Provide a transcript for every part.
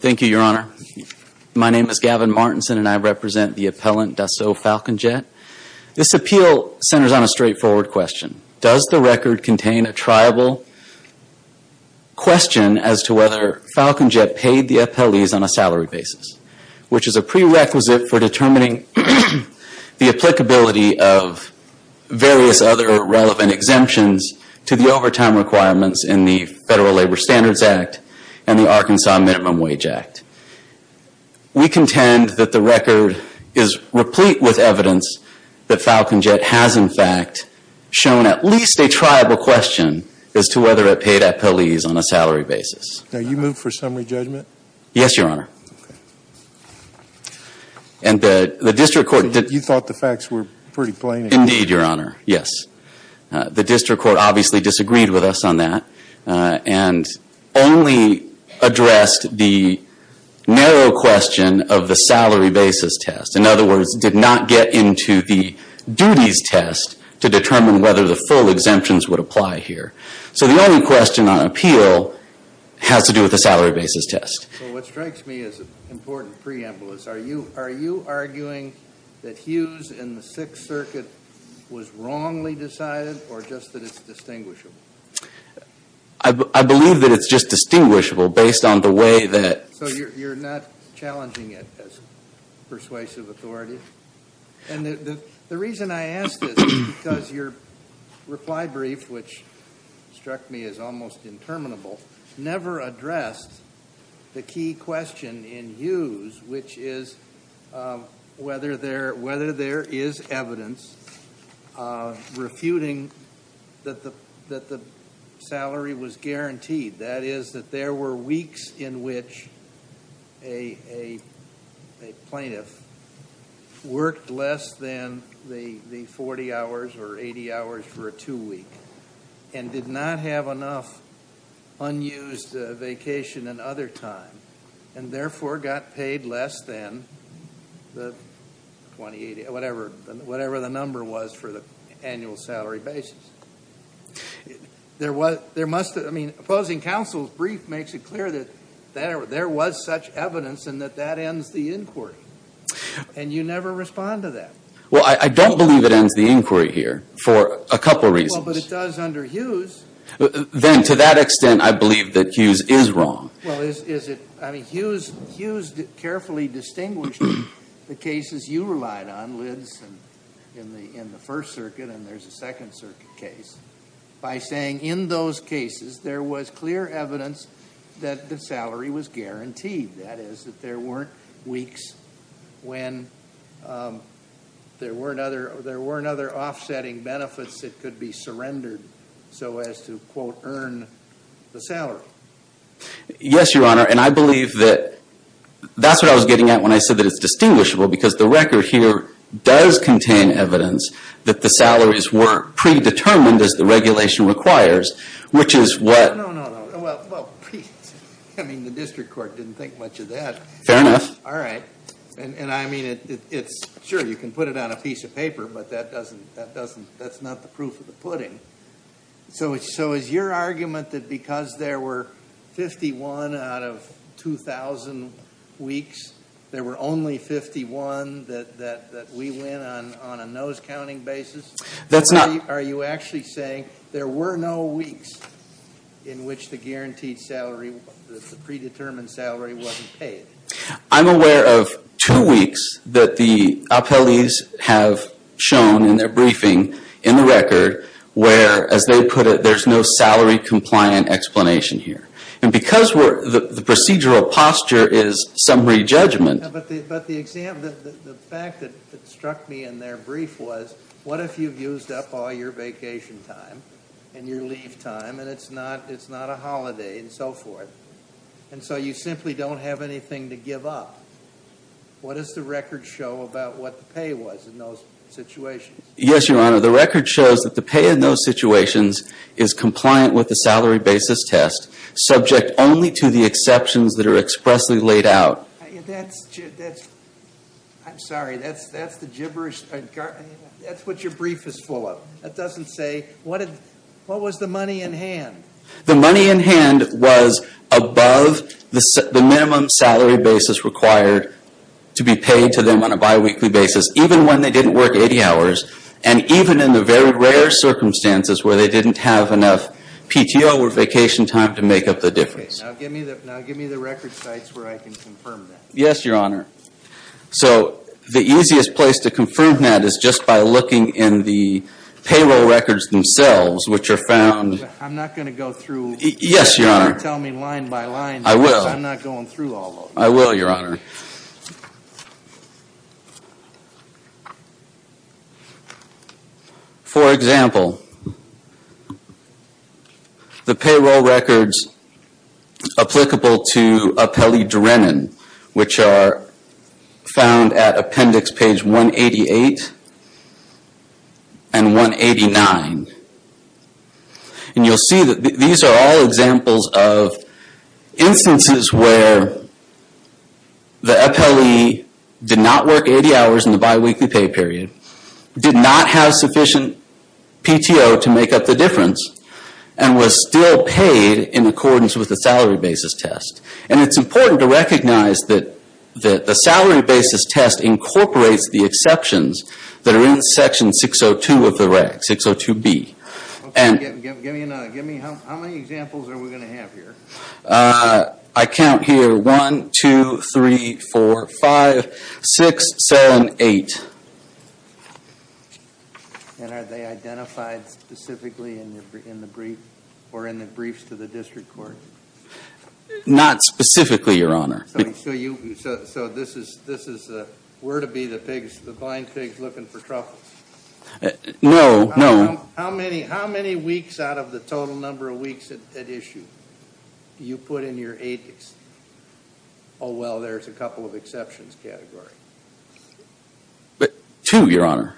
Thank you, Your Honor. My name is Gavin Martinson and I represent the appellant Dassault Falcon Jet. This appeal centers on a straightforward question. Does the record contain a triable question as to whether Falcon Jet paid the appellees on a salary basis, which is a prerequisite for determining the applicability of various other relevant exemptions to the overtime requirements in the Federal Labor Standards Act and the Arkansas Minimum Wage Act. We contend that the record is replete with evidence that Falcon Jet has in fact shown at least a triable question as to whether it paid appellees on a salary basis. Now, you move for summary judgment? Yes, Your Honor. Okay. And the district court did You thought the facts were pretty plain? Indeed, Your Honor. Yes. The district court obviously disagreed with us on that and only addressed the narrow question of the salary basis test. In other words, did not get into the duties test to determine whether the full exemptions would apply here. So the only question on appeal has to do with the salary basis test. So what strikes me as an important preamble is are you arguing that Hughes in the Sixth Circuit was wrongly decided or just that it's distinguishable? I believe that it's just distinguishable based on the way that So you're not challenging it as persuasive authority? And the reason I ask this is because your reply brief, which struck me as almost interminable, never addressed the key question in Hughes, which is whether there is evidence refuting that the salary was guaranteed. That is, that there were weeks in which a plaintiff worked less than the 40 hours or 80 hours for a two-week and did not have enough unused vacation and other time and therefore got paid less than the 20, 80, whatever the number was for the full salary basis. Opposing counsel's brief makes it clear that there was such evidence and that that ends the inquiry. And you never respond to that. Well, I don't believe it ends the inquiry here for a couple of reasons. Well, but it does under Hughes. Then to that extent, I believe that Hughes is wrong. Well, is it? I mean, Hughes carefully distinguished the cases you relied on, Lids, in the First and Second Circuit case, by saying in those cases there was clear evidence that the salary was guaranteed. That is, that there weren't weeks when there weren't other offsetting benefits that could be surrendered so as to, quote, earn the salary. Yes, Your Honor. And I believe that that's what I was getting at when I said that it's predetermined as the regulation requires, which is what... No, no, no. Well, I mean, the district court didn't think much of that. Fair enough. All right. And I mean, it's, sure, you can put it on a piece of paper, but that doesn't, that doesn't, that's not the proof of the pudding. So is your argument that because there were 51 out of 2,000 weeks, there were only 51 that we went on a nose-counting basis? That's not... Are you actually saying there were no weeks in which the guaranteed salary, the predetermined salary wasn't paid? I'm aware of two weeks that the appellees have shown in their briefing in the record where, as they put it, there's no salary-compliant explanation here. And because we're, the procedural posture is summary judgment... But the fact that struck me in their brief was, what if you've used up all your vacation time and your leave time, and it's not a holiday and so forth? And so you simply don't have anything to give up. What does the record show about what the pay was in those situations? Yes, Your Honor, the record shows that the pay in those situations is compliant with the salary basis test, subject only to the exceptions that are expressly laid out. And that's, I'm sorry, that's the gibberish, that's what your brief is full of. It doesn't say, what was the money in hand? The money in hand was above the minimum salary basis required to be paid to them on a biweekly basis, even when they didn't work 80 hours, and even in the very rare circumstances where they didn't have enough PTO or vacation time to make up the difference. Now give me the record sites where I can confirm that. Yes, Your Honor. So the easiest place to confirm that is just by looking in the payroll records themselves, which are found... I'm not going to go through... Yes, Your Honor. You're going to tell me line by line. I will. I'm not going through all of them. I will, Your Honor. For example, the payroll records applicable to Apelli-Durenin, which are found at appendix page 188 and 189. And you'll see that these are all examples of instances where the Apelli did not work 80 hours in the biweekly pay period, did not have sufficient PTO to make up the difference, and was still paid in accordance with the salary basis test. And it's important to recognize that the salary basis test incorporates the exceptions that are in section 602 of the reg, 602B. Okay, give me another. How many examples are we going to have here? I count here 1, 2, 3, 4, 5, 6, 7, 8. And are they identified specifically in the brief or in the briefs to the district court? Not specifically, Your Honor. So this is where to be the pigs, the blind pigs looking for truffles? No, no. How many weeks out of the total number of weeks at issue do you put in your eight? Oh, well, there's a couple of exceptions category. But two, Your Honor.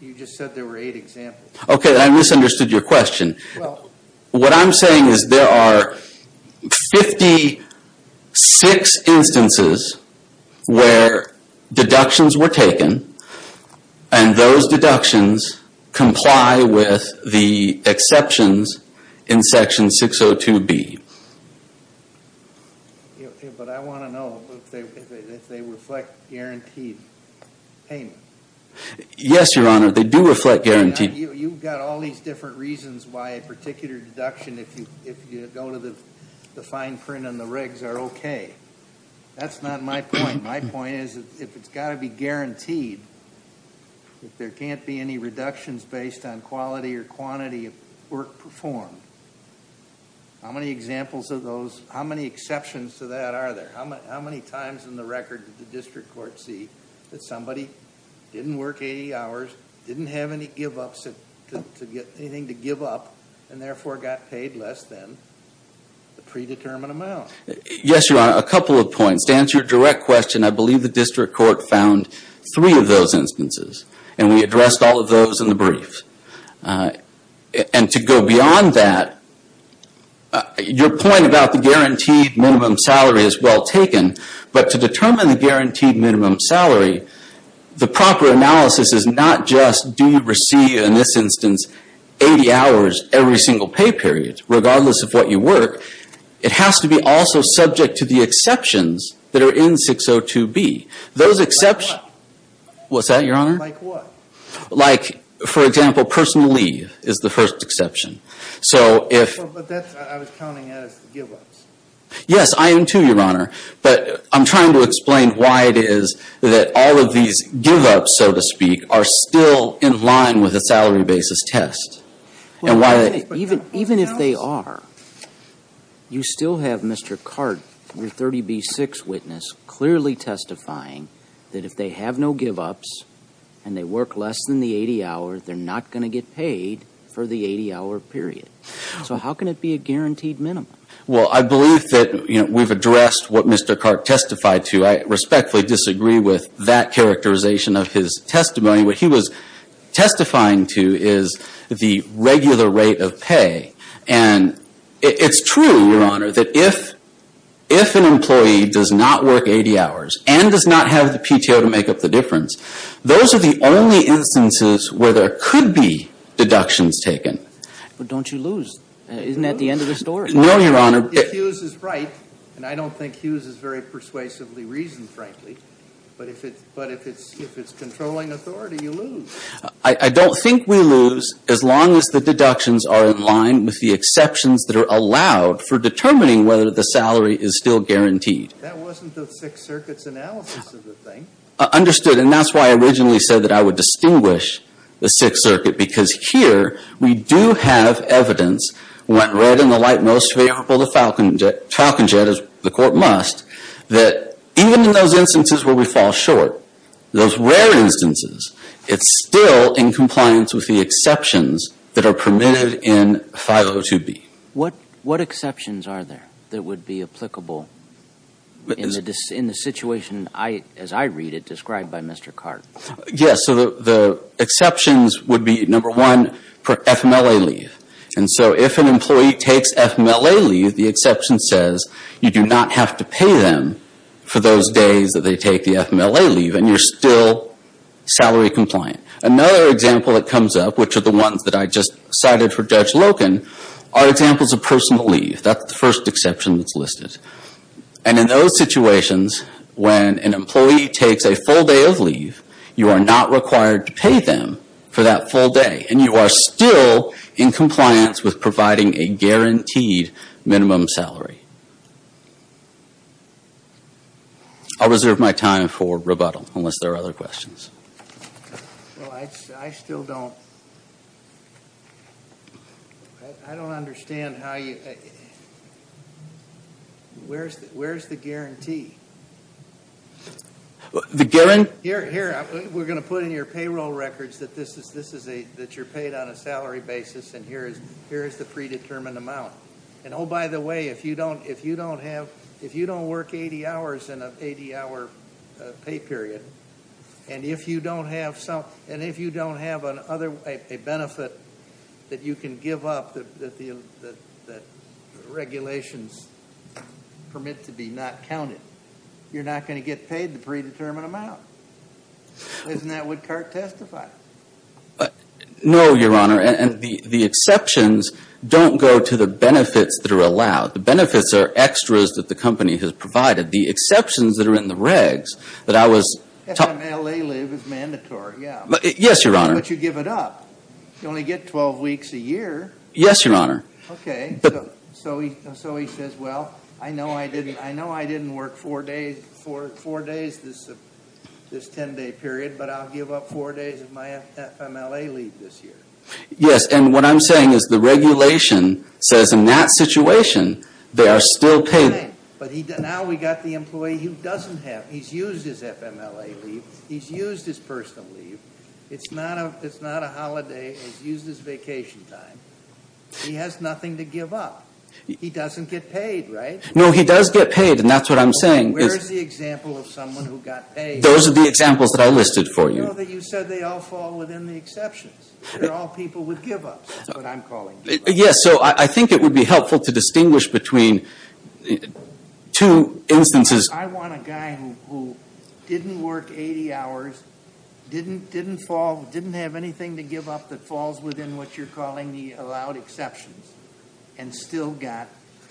You just said there were eight examples. Okay, I misunderstood your question. What I'm saying is there are 56 instances where deductions were taken, and those deductions comply with the exceptions in section 602B. But I want to know if they reflect guaranteed payment. Yes, Your Honor, they do reflect guaranteed. You've got all these different reasons why a particular deduction, if you go to the fine print on the regs, are okay. That's not my point. My point is if it's got to be guaranteed, if there can't be any reductions based on quality or quantity of work performed, how many examples of those, how many exceptions to that are there? How many times in the record did the district court see that somebody didn't work 80 hours, didn't have anything to give up, and therefore got paid less than the predetermined amount? Yes, Your Honor, a couple of points. To answer your direct question, I believe the district court found three of those instances, and we addressed all of those in the brief. And to go beyond that, your point about the guaranteed minimum salary is well taken, but to determine the guaranteed minimum salary, the proper analysis is not just do you receive, in this instance, 80 hours every single pay period, regardless of what you work. It has to be also subject to the exceptions that are in 602B. What's that, Your Honor? Like what? Like, for example, personal leave is the first exception. But that's, I was counting as give-ups. Yes, I am too, Your Honor. But I'm trying to explain why it is that all of these give-ups, so to speak, are still in line with the salary basis test. Even if they are, you still have Mr. Cart, your 30B6 witness, clearly testifying that if they have no give-ups and they work less than the 80 hours, they're not going to get paid for the 80-hour period. So how can it be a guaranteed minimum? Well, I believe that we've addressed what Mr. Cart testified to. I respectfully disagree with that characterization of his testimony. What he was testifying to is the regular rate of pay. And it's true, Your Honor, that if an employee does not work 80 hours and does not have the PTO to make up the difference, those are the only instances where there could be deductions taken. But don't you lose? Isn't that the end of the story? No, Your Honor. If Hughes is right, and I don't think Hughes is very persuasively reasoned, frankly, but if it's controlling authority, you lose. I don't think we lose as long as the deductions are in line with the exceptions that are allowed for determining whether the salary is still guaranteed. That wasn't the Sixth Circuit's analysis of the thing. Understood. And that's why I originally said that I would distinguish the Sixth Circuit, because here we do have evidence, when read in the light most favorable to Falcon Jet, as the Court must, that even in those instances where we fall short, those rare instances, it's still in compliance with the exceptions that are permitted in 502B. What exceptions are there that would be applicable in the situation, as I read it, described by Mr. Cart? Yes, so the exceptions would be, number one, per FMLA leave. And so, if an employee takes FMLA leave, the exception says you do not have to pay them for those days that they take the FMLA leave, and you're still salary compliant. Another example that comes up, which are the ones that I just cited for Judge Loken, are examples of personal leave. That's the first exception that's listed. And in those situations, when an employee takes a full day of leave, you are not required to pay them for that full day. And you are still in compliance with providing a guaranteed minimum salary. I'll reserve my time for rebuttal, unless there are other questions. Well, I still don't, I don't understand how you, where's the guarantee? The guarantee? Here, we're going to put in your payroll records that you're paid on a salary basis, and here is the predetermined amount. And oh, by the way, if you don't have, if you don't work 80 hours in an 80 hour pay period, and if you don't have some, and if you don't have an other, a benefit that you can give up that the regulations permit to be not counted, you're not going to get paid the predetermined amount. Isn't that what CART testifies? No, Your Honor, and the exceptions don't go to the benefits that are allowed. The benefits are extras that the company has provided. The exceptions that are in the regs, that I was. FMLA leave is mandatory, yeah. Yes, Your Honor. But you give it up. You only get 12 weeks a year. Yes, Your Honor. Okay, so he says, well, I know I didn't work four days, four days this 10 day period, but I'll give up four days of my FMLA leave this year. Yes, and what I'm saying is the regulation says in that situation, they are still paid. But now we got the employee who doesn't have, he's used his FMLA leave. He's used his personal leave. It's not a holiday. He's used his vacation time. He has nothing to give up. He doesn't get paid, right? No, he does get paid, and that's what I'm saying. Where's the example of someone who got paid? Those are the examples that I listed for you. I know that you said they all fall within the exceptions. They're all people with give ups, that's what I'm calling. Yes, so I think it would be helpful to distinguish between two instances. I want a guy who didn't work 80 hours, didn't fall, didn't have anything to give up that falls within what you're calling the allowed exceptions, and still got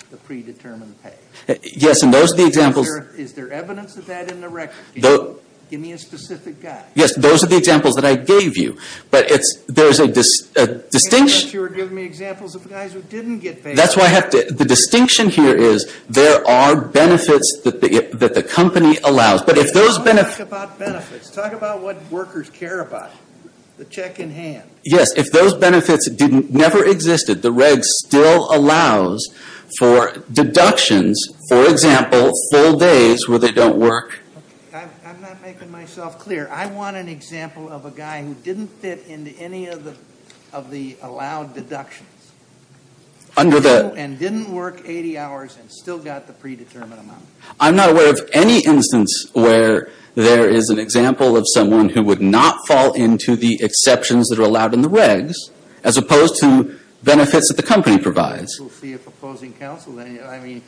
the predetermined pay. Yes, and those are the examples. Is there evidence of that in the record? Give me a specific guy. Yes, those are the examples that I gave you, but there's a distinction. You're giving me examples of guys who didn't get paid. That's why I have to. The distinction here is there are benefits that the company allows, but if those benefits. Don't talk about benefits. Talk about what workers care about, the check in hand. Yes, if those benefits never existed, the reg still allows for deductions, for example, full days where they don't work. I'm not making myself clear. I want an example of a guy who didn't fit into any of the allowed deductions. And didn't work 80 hours and still got the predetermined amount. I'm not aware of any instance where there is an example of someone who would not fall into the exceptions that are allowed in the regs, as opposed to benefits that the company provides. We'll see if opposing counsel then. I mean,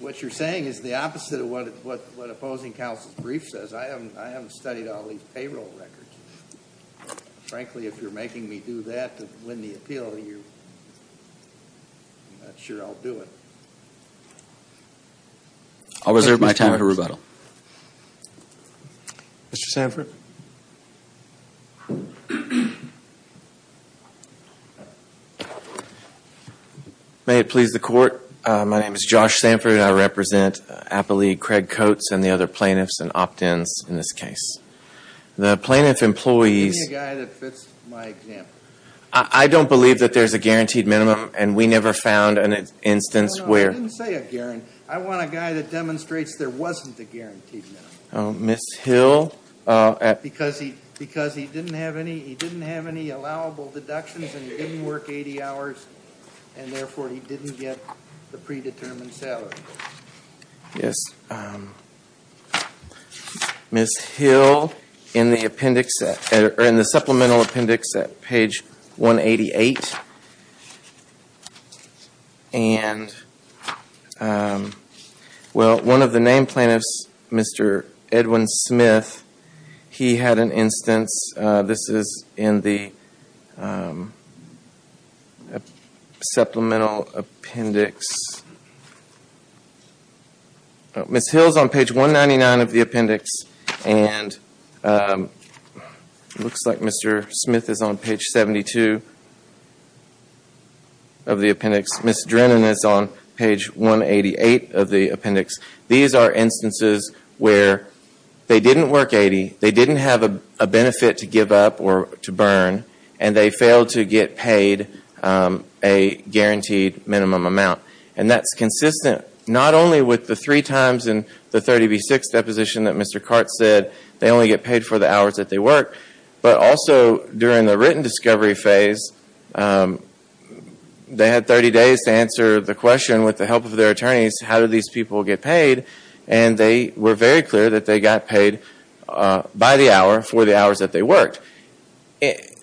what you're saying is the opposite of what opposing counsel's brief says. I haven't studied all these payroll records. Frankly, if you're making me do that to win the appeal, I'm not sure I'll do it. I'll reserve my time for rebuttal. Mr. Sanford? May it please the court. My name is Josh Sanford. I represent Apple League, Craig Coats, and the other plaintiffs and opt-ins in this case. The plaintiff employees- Give me a guy that fits my example. I don't believe that there's a guaranteed minimum, and we never found an instance where- No, no, I didn't say a guarantee. I want a guy that demonstrates there wasn't a guaranteed minimum. Oh, Ms. Hill? Because he didn't have any allowable deductions, and he didn't work 80 hours, and therefore, he didn't get the predetermined salary. Yes, Ms. Hill, in the supplemental appendix at page 188. Well, one of the named plaintiffs, Mr. Edwin Smith, he had an instance. This is in the supplemental appendix. Ms. Hill's on page 199 of the appendix, and it looks like Mr. Smith is on page 72 of the appendix. Ms. Drennan is on page 188 of the appendix. These are instances where they didn't work 80. They didn't have a benefit to give up or to burn, and they failed to get paid a guaranteed minimum amount, and that's consistent not only with the three times in the 30 v. 6 deposition that Mr. Cart said they only get paid for the hours that they work, but also during the written discovery phase, they had 30 days to answer the question with the help of their by the hour for the hours that they worked.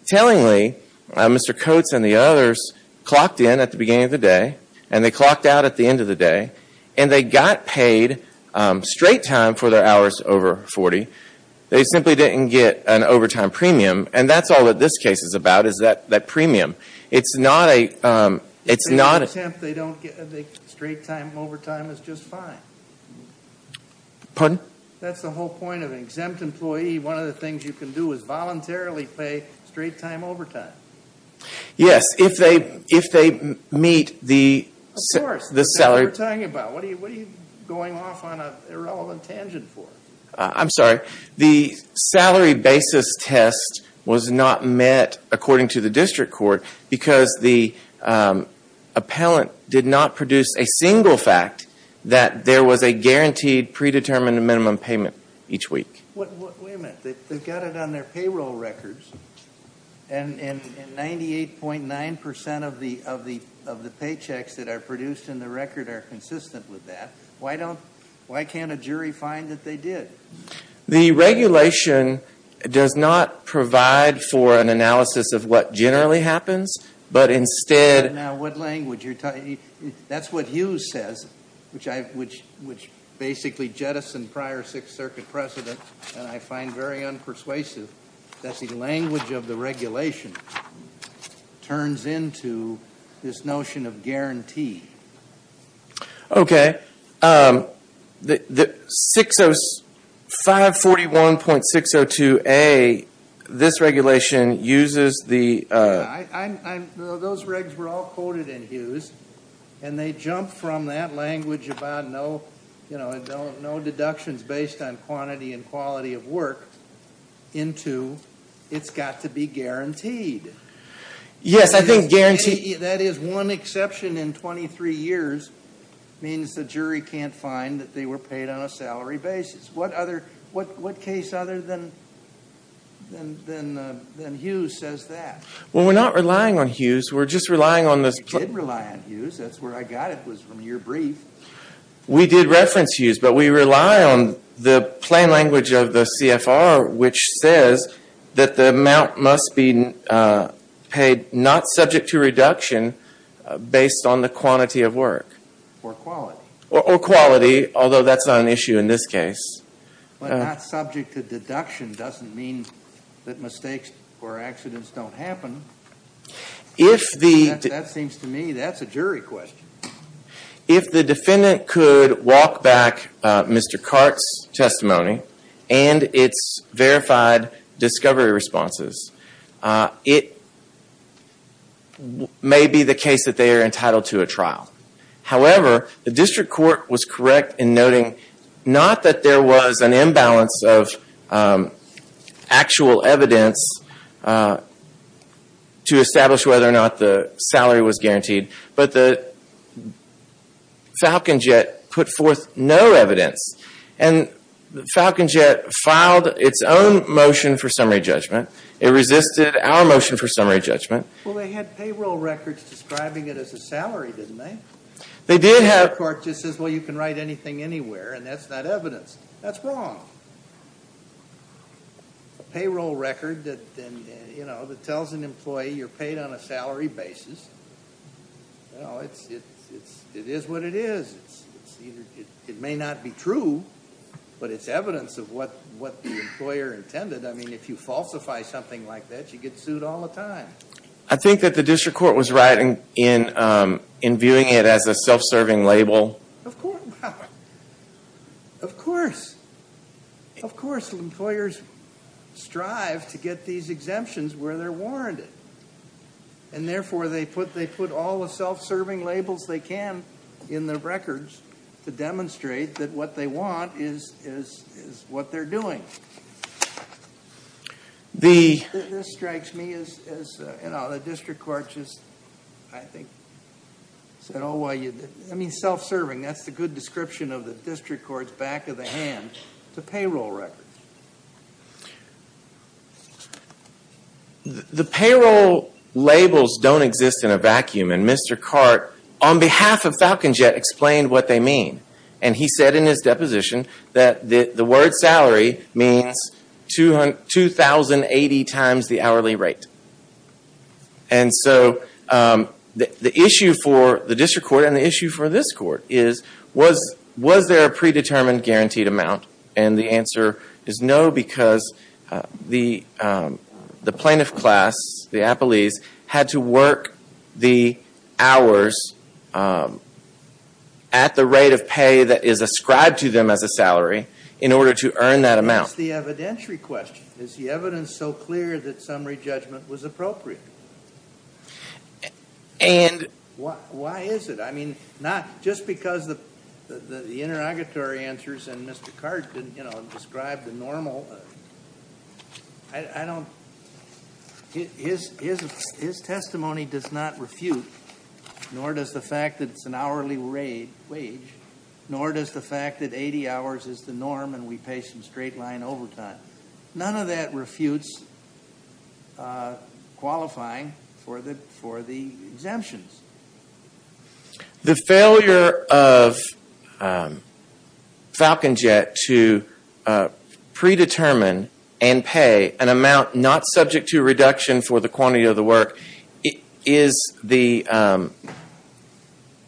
Tellingly, Mr. Coates and the others clocked in at the beginning of the day, and they clocked out at the end of the day, and they got paid straight time for their hours over 40. They simply didn't get an overtime premium, and that's all that this case is about, is that premium. It's not a... If they don't attempt, they don't get the straight time overtime is just fine. Pardon? That's the whole point of an exempt employee. One of the things you can do is voluntarily pay straight time overtime. Yes, if they meet the... Of course, that's what we're talking about. What are you going off on an irrelevant tangent for? I'm sorry. The salary basis test was not met according to the district court because the appellant did not produce a single fact that there was a guaranteed predetermined minimum payment each week. Wait a minute. They've got it on their payroll records, and 98.9% of the paychecks that are produced in the record are consistent with that. Why can't a jury find that they did? The regulation does not provide for an analysis of what generally happens, but instead... What language? That's what Hughes says, which basically jettisoned prior Sixth Circuit precedent, and I find very unpersuasive. That's the language of the regulation turns into this notion of guarantee. Okay. 541.602A, this regulation uses the... Those regs were all quoted in Hughes, and they jumped from that language about no deductions based on quantity and quality of work into it's got to be guaranteed. Yes, I think guaranteed... That is one exception in 23 years means the jury can't find that they were paid on a salary basis. What case other than Hughes says that? Well, we're not relying on Hughes, we're just relying on this... You did rely on Hughes, that's where I got it was from your brief. We did reference Hughes, but we rely on the plain language of the CFR, which says that the amount must be paid not subject to reduction based on the quantity of work. Or quality. Or quality, although that's not an issue in this case. But not subject to deduction doesn't mean that mistakes or accidents don't happen. If the... That seems to me that's a jury question. If the defendant could walk back Mr. Cart's testimony and it's verified discovery responses, it may be the case that they are entitled to a trial. However, the district court was correct in noting not that there was an imbalance of actual evidence to establish whether or not the salary was guaranteed. But the Falcon Jet put forth no evidence and the Falcon Jet filed its own motion for summary judgment. It resisted our motion for summary judgment. Well, they had payroll records describing it as a salary, didn't they? They did have... The court just says, well, you can write anything anywhere and that's not evidence. That's wrong. A payroll record that tells an employee you're paid on a salary basis. No, it is what it is. It may not be true, but it's evidence of what the employer intended. I mean, if you falsify something like that, you get sued all the time. I think that the district court was right in viewing it as a self-serving label. Of course, of course. Of course, employers strive to get these exemptions where they're warranted. And therefore, they put all the self-serving labels they can in their records to demonstrate that what they want is what they're doing. This strikes me as, you know, the district court just, I think, said, oh, well, I mean, self-serving, that's the good description of the district court's back of the hand, the payroll record. The payroll labels don't exist in a vacuum. And Mr. Cart, on behalf of Falcon Jet, explained what they mean. And he said in his deposition that the word salary means 2,080 times the hourly rate. And so the issue for the district court and the issue for this court is, was there a predetermined guaranteed amount? And the answer is no, because the plaintiff class, the appellees, had to work the hours at the rate of pay that is ascribed to them as a salary in order to earn that amount. It's the evidentiary question. Is the evidence so clear that summary judgment was appropriate? And why is it? I mean, not just because the interrogatory answers and Mr. Cart didn't, you know, describe the normal, I don't, his testimony does not refute, nor does the fact that it's an hourly wage, nor does the fact that 80 hours is the norm and we pay some straight line overtime. None of that refutes qualifying for the exemptions. The failure of Falcon Jet to predetermine and pay an amount not subject to reduction for the quantity of the work is the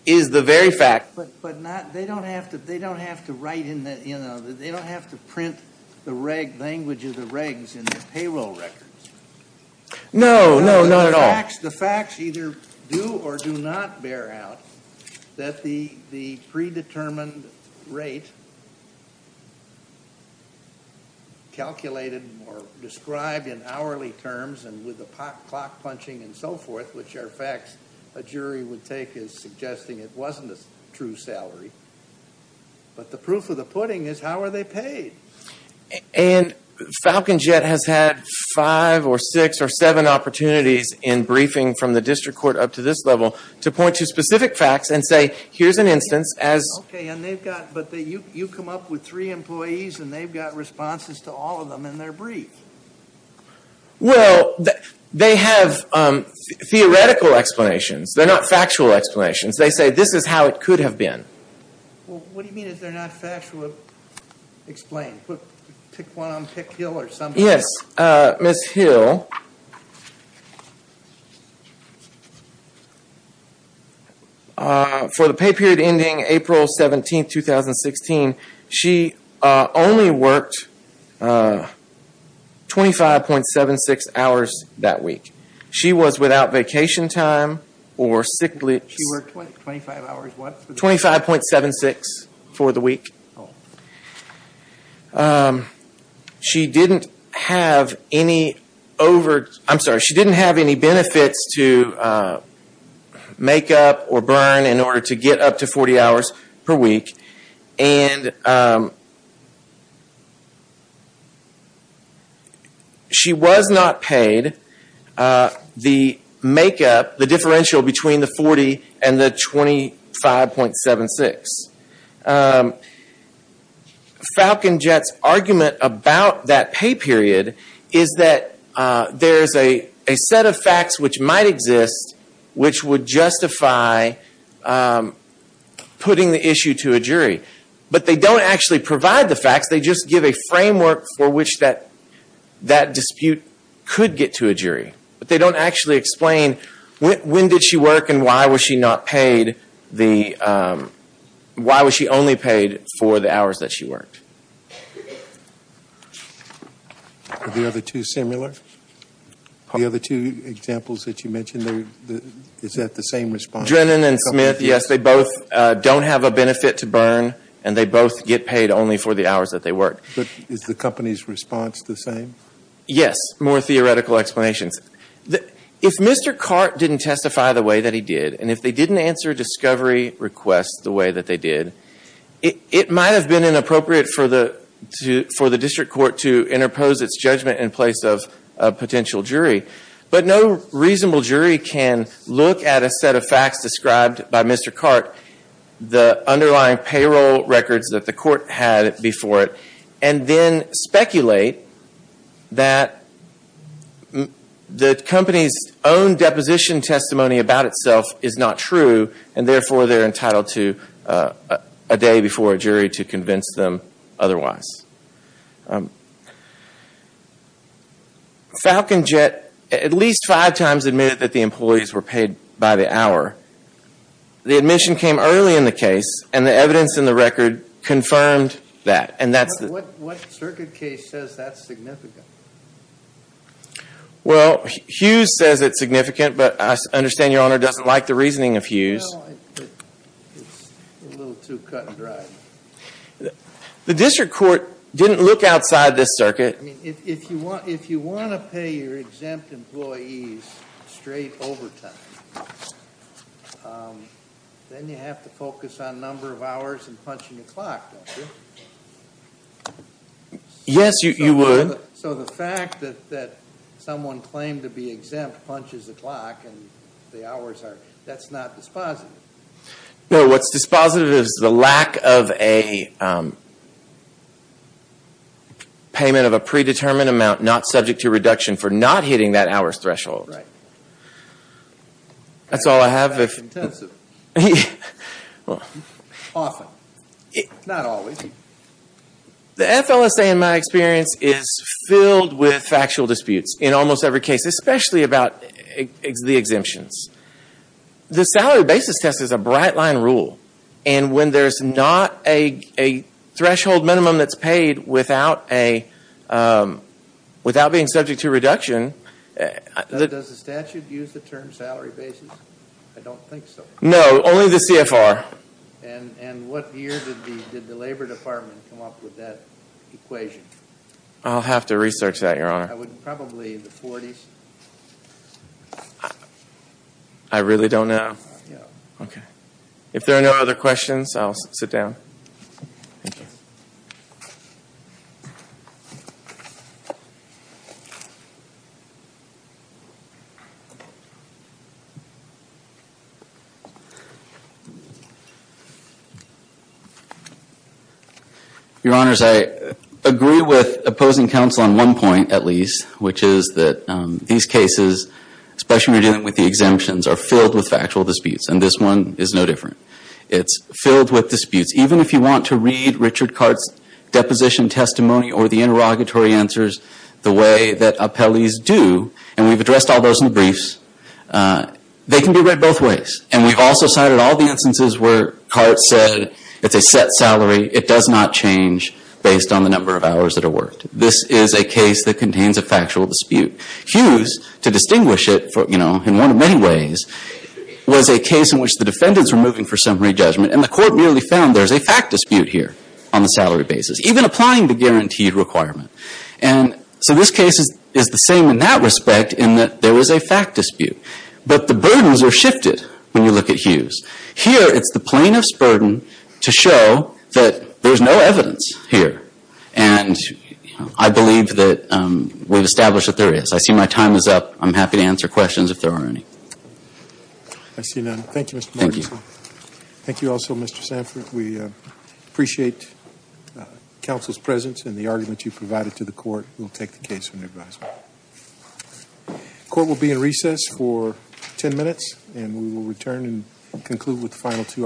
very fact. But not, they don't have to, they don't have to write in the, you know, they don't have to print the reg language of the regs in the payroll records. No, no, not at all. The facts either do or do not bear out that the predetermined rate calculated or described in hourly terms and with the clock punching and so forth, which are facts a jury would take as suggesting it wasn't a true salary. But the proof of the pudding is how are they paid? And Falcon Jet has had five or six or seven opportunities in briefing from the district court up to this level to point to specific facts and say here's an instance as. Okay, and they've got, but you come up with three employees and they've got responses to all of them in their brief. Well, they have theoretical explanations. They're not factual explanations. They say this is how it could have been. Well, what do you mean if they're not factual explain? Pick one on Pickhill or something. Yes, Ms. Hill. For the pay period ending April 17, 2016, she only worked 25.76 hours that week. She was without vacation time or sick leave. She worked 25 hours, what? 25.76 for the week. She didn't have any over, I'm sorry, she didn't have any benefits to make up or burn in order to get up to 40 hours per week and she was not paid the make up, the differential between the 40 and the 25.76. Falcon Jet's argument about that pay period is that there's a set of facts which might exist which would justify putting the issue to a jury. But they don't actually provide the facts. They just give a framework for which that dispute could get to a jury. But they don't actually explain when did she work and why was she not paid the, why was she only paid for the hours that she worked. Are the other two similar? The other two examples that you mentioned, is that the same response? Drennan and Smith, yes, they both don't have a benefit to burn and they both get paid only for the hours that they work. But is the company's response the same? Yes, more theoretical explanations. If Mr. Cart didn't testify the way that he did and if they didn't answer discovery requests the way that they did, it might have been inappropriate for the district court to interpose its judgment in place of a potential jury. But no reasonable jury can look at a set of facts described by Mr. Cart, the underlying payroll records that the court had before it, and then speculate that the company's own deposition testimony about itself is not true and therefore they're entitled to a day before a jury to convince them otherwise. Um, Falcon Jet at least five times admitted that the employees were paid by the hour. The admission came early in the case and the evidence in the record confirmed that. And that's the... What, what circuit case says that's significant? Well, Hughes says it's significant, but I understand your honor doesn't like the reasoning of Hughes. Well, it's a little too cut and dry. Um, the district court didn't look outside this circuit. I mean, if you want, if you want to pay your exempt employees straight overtime, um, then you have to focus on number of hours and punching a clock, don't you? Yes, you would. So the fact that, that someone claimed to be exempt punches a clock and the hours are, that's not dispositive. No, what's dispositive is the lack of a, um, payment of a predetermined amount not subject to reduction for not hitting that hour's threshold. Right. That's all I have. Often. Not always. The FLSA in my experience is filled with factual disputes in almost every case, especially about the exemptions. The salary basis test is a bright line rule, and when there's not a, a threshold minimum that's paid without a, um, without being subject to reduction. Does the statute use the term salary basis? I don't think so. No, only the CFR. And, and what year did the, did the labor department come up with that equation? I'll have to research that, your honor. Probably the 40s. I really don't know. Okay. If there are no other questions, I'll sit down. Thank you. Your honors, I agree with opposing counsel on one point, at least, which is that, um, these cases, especially when you're dealing with the exemptions, are filled with factual disputes. And this one is no different. It's filled with disputes. Even if you want to read Richard Cart's deposition testimony or the interrogatory answers the way that appellees do, and we've addressed all those in the briefs, they can be read both ways. And we've also cited all the instances where Cart said it's a set salary. It does not change based on the number of hours that are worked. This is a case that contains a factual dispute. Hughes, to distinguish it from, you know, in one of many ways, was a case in which the defendants were moving for summary judgment, and the court merely found there's a fact dispute here on the salary basis, even applying the guaranteed requirement. And so this case is, is the same in that respect, in that there was a fact dispute. But the burdens are shifted when you look at Hughes. Here, it's the plaintiff's burden to show that there's no evidence here. And, you know, I believe that, um, we've established that there is. I see my time is up. I'm happy to answer questions if there are any. I see none. Thank you, Mr. Marks. Thank you. Thank you also, Mr. Sanford. We, uh, appreciate, uh, counsel's presence and the argument you provided to the court. We'll take the case from your advisory. The court will be in recess for 10 minutes, and we will return and conclude with the final two arguments.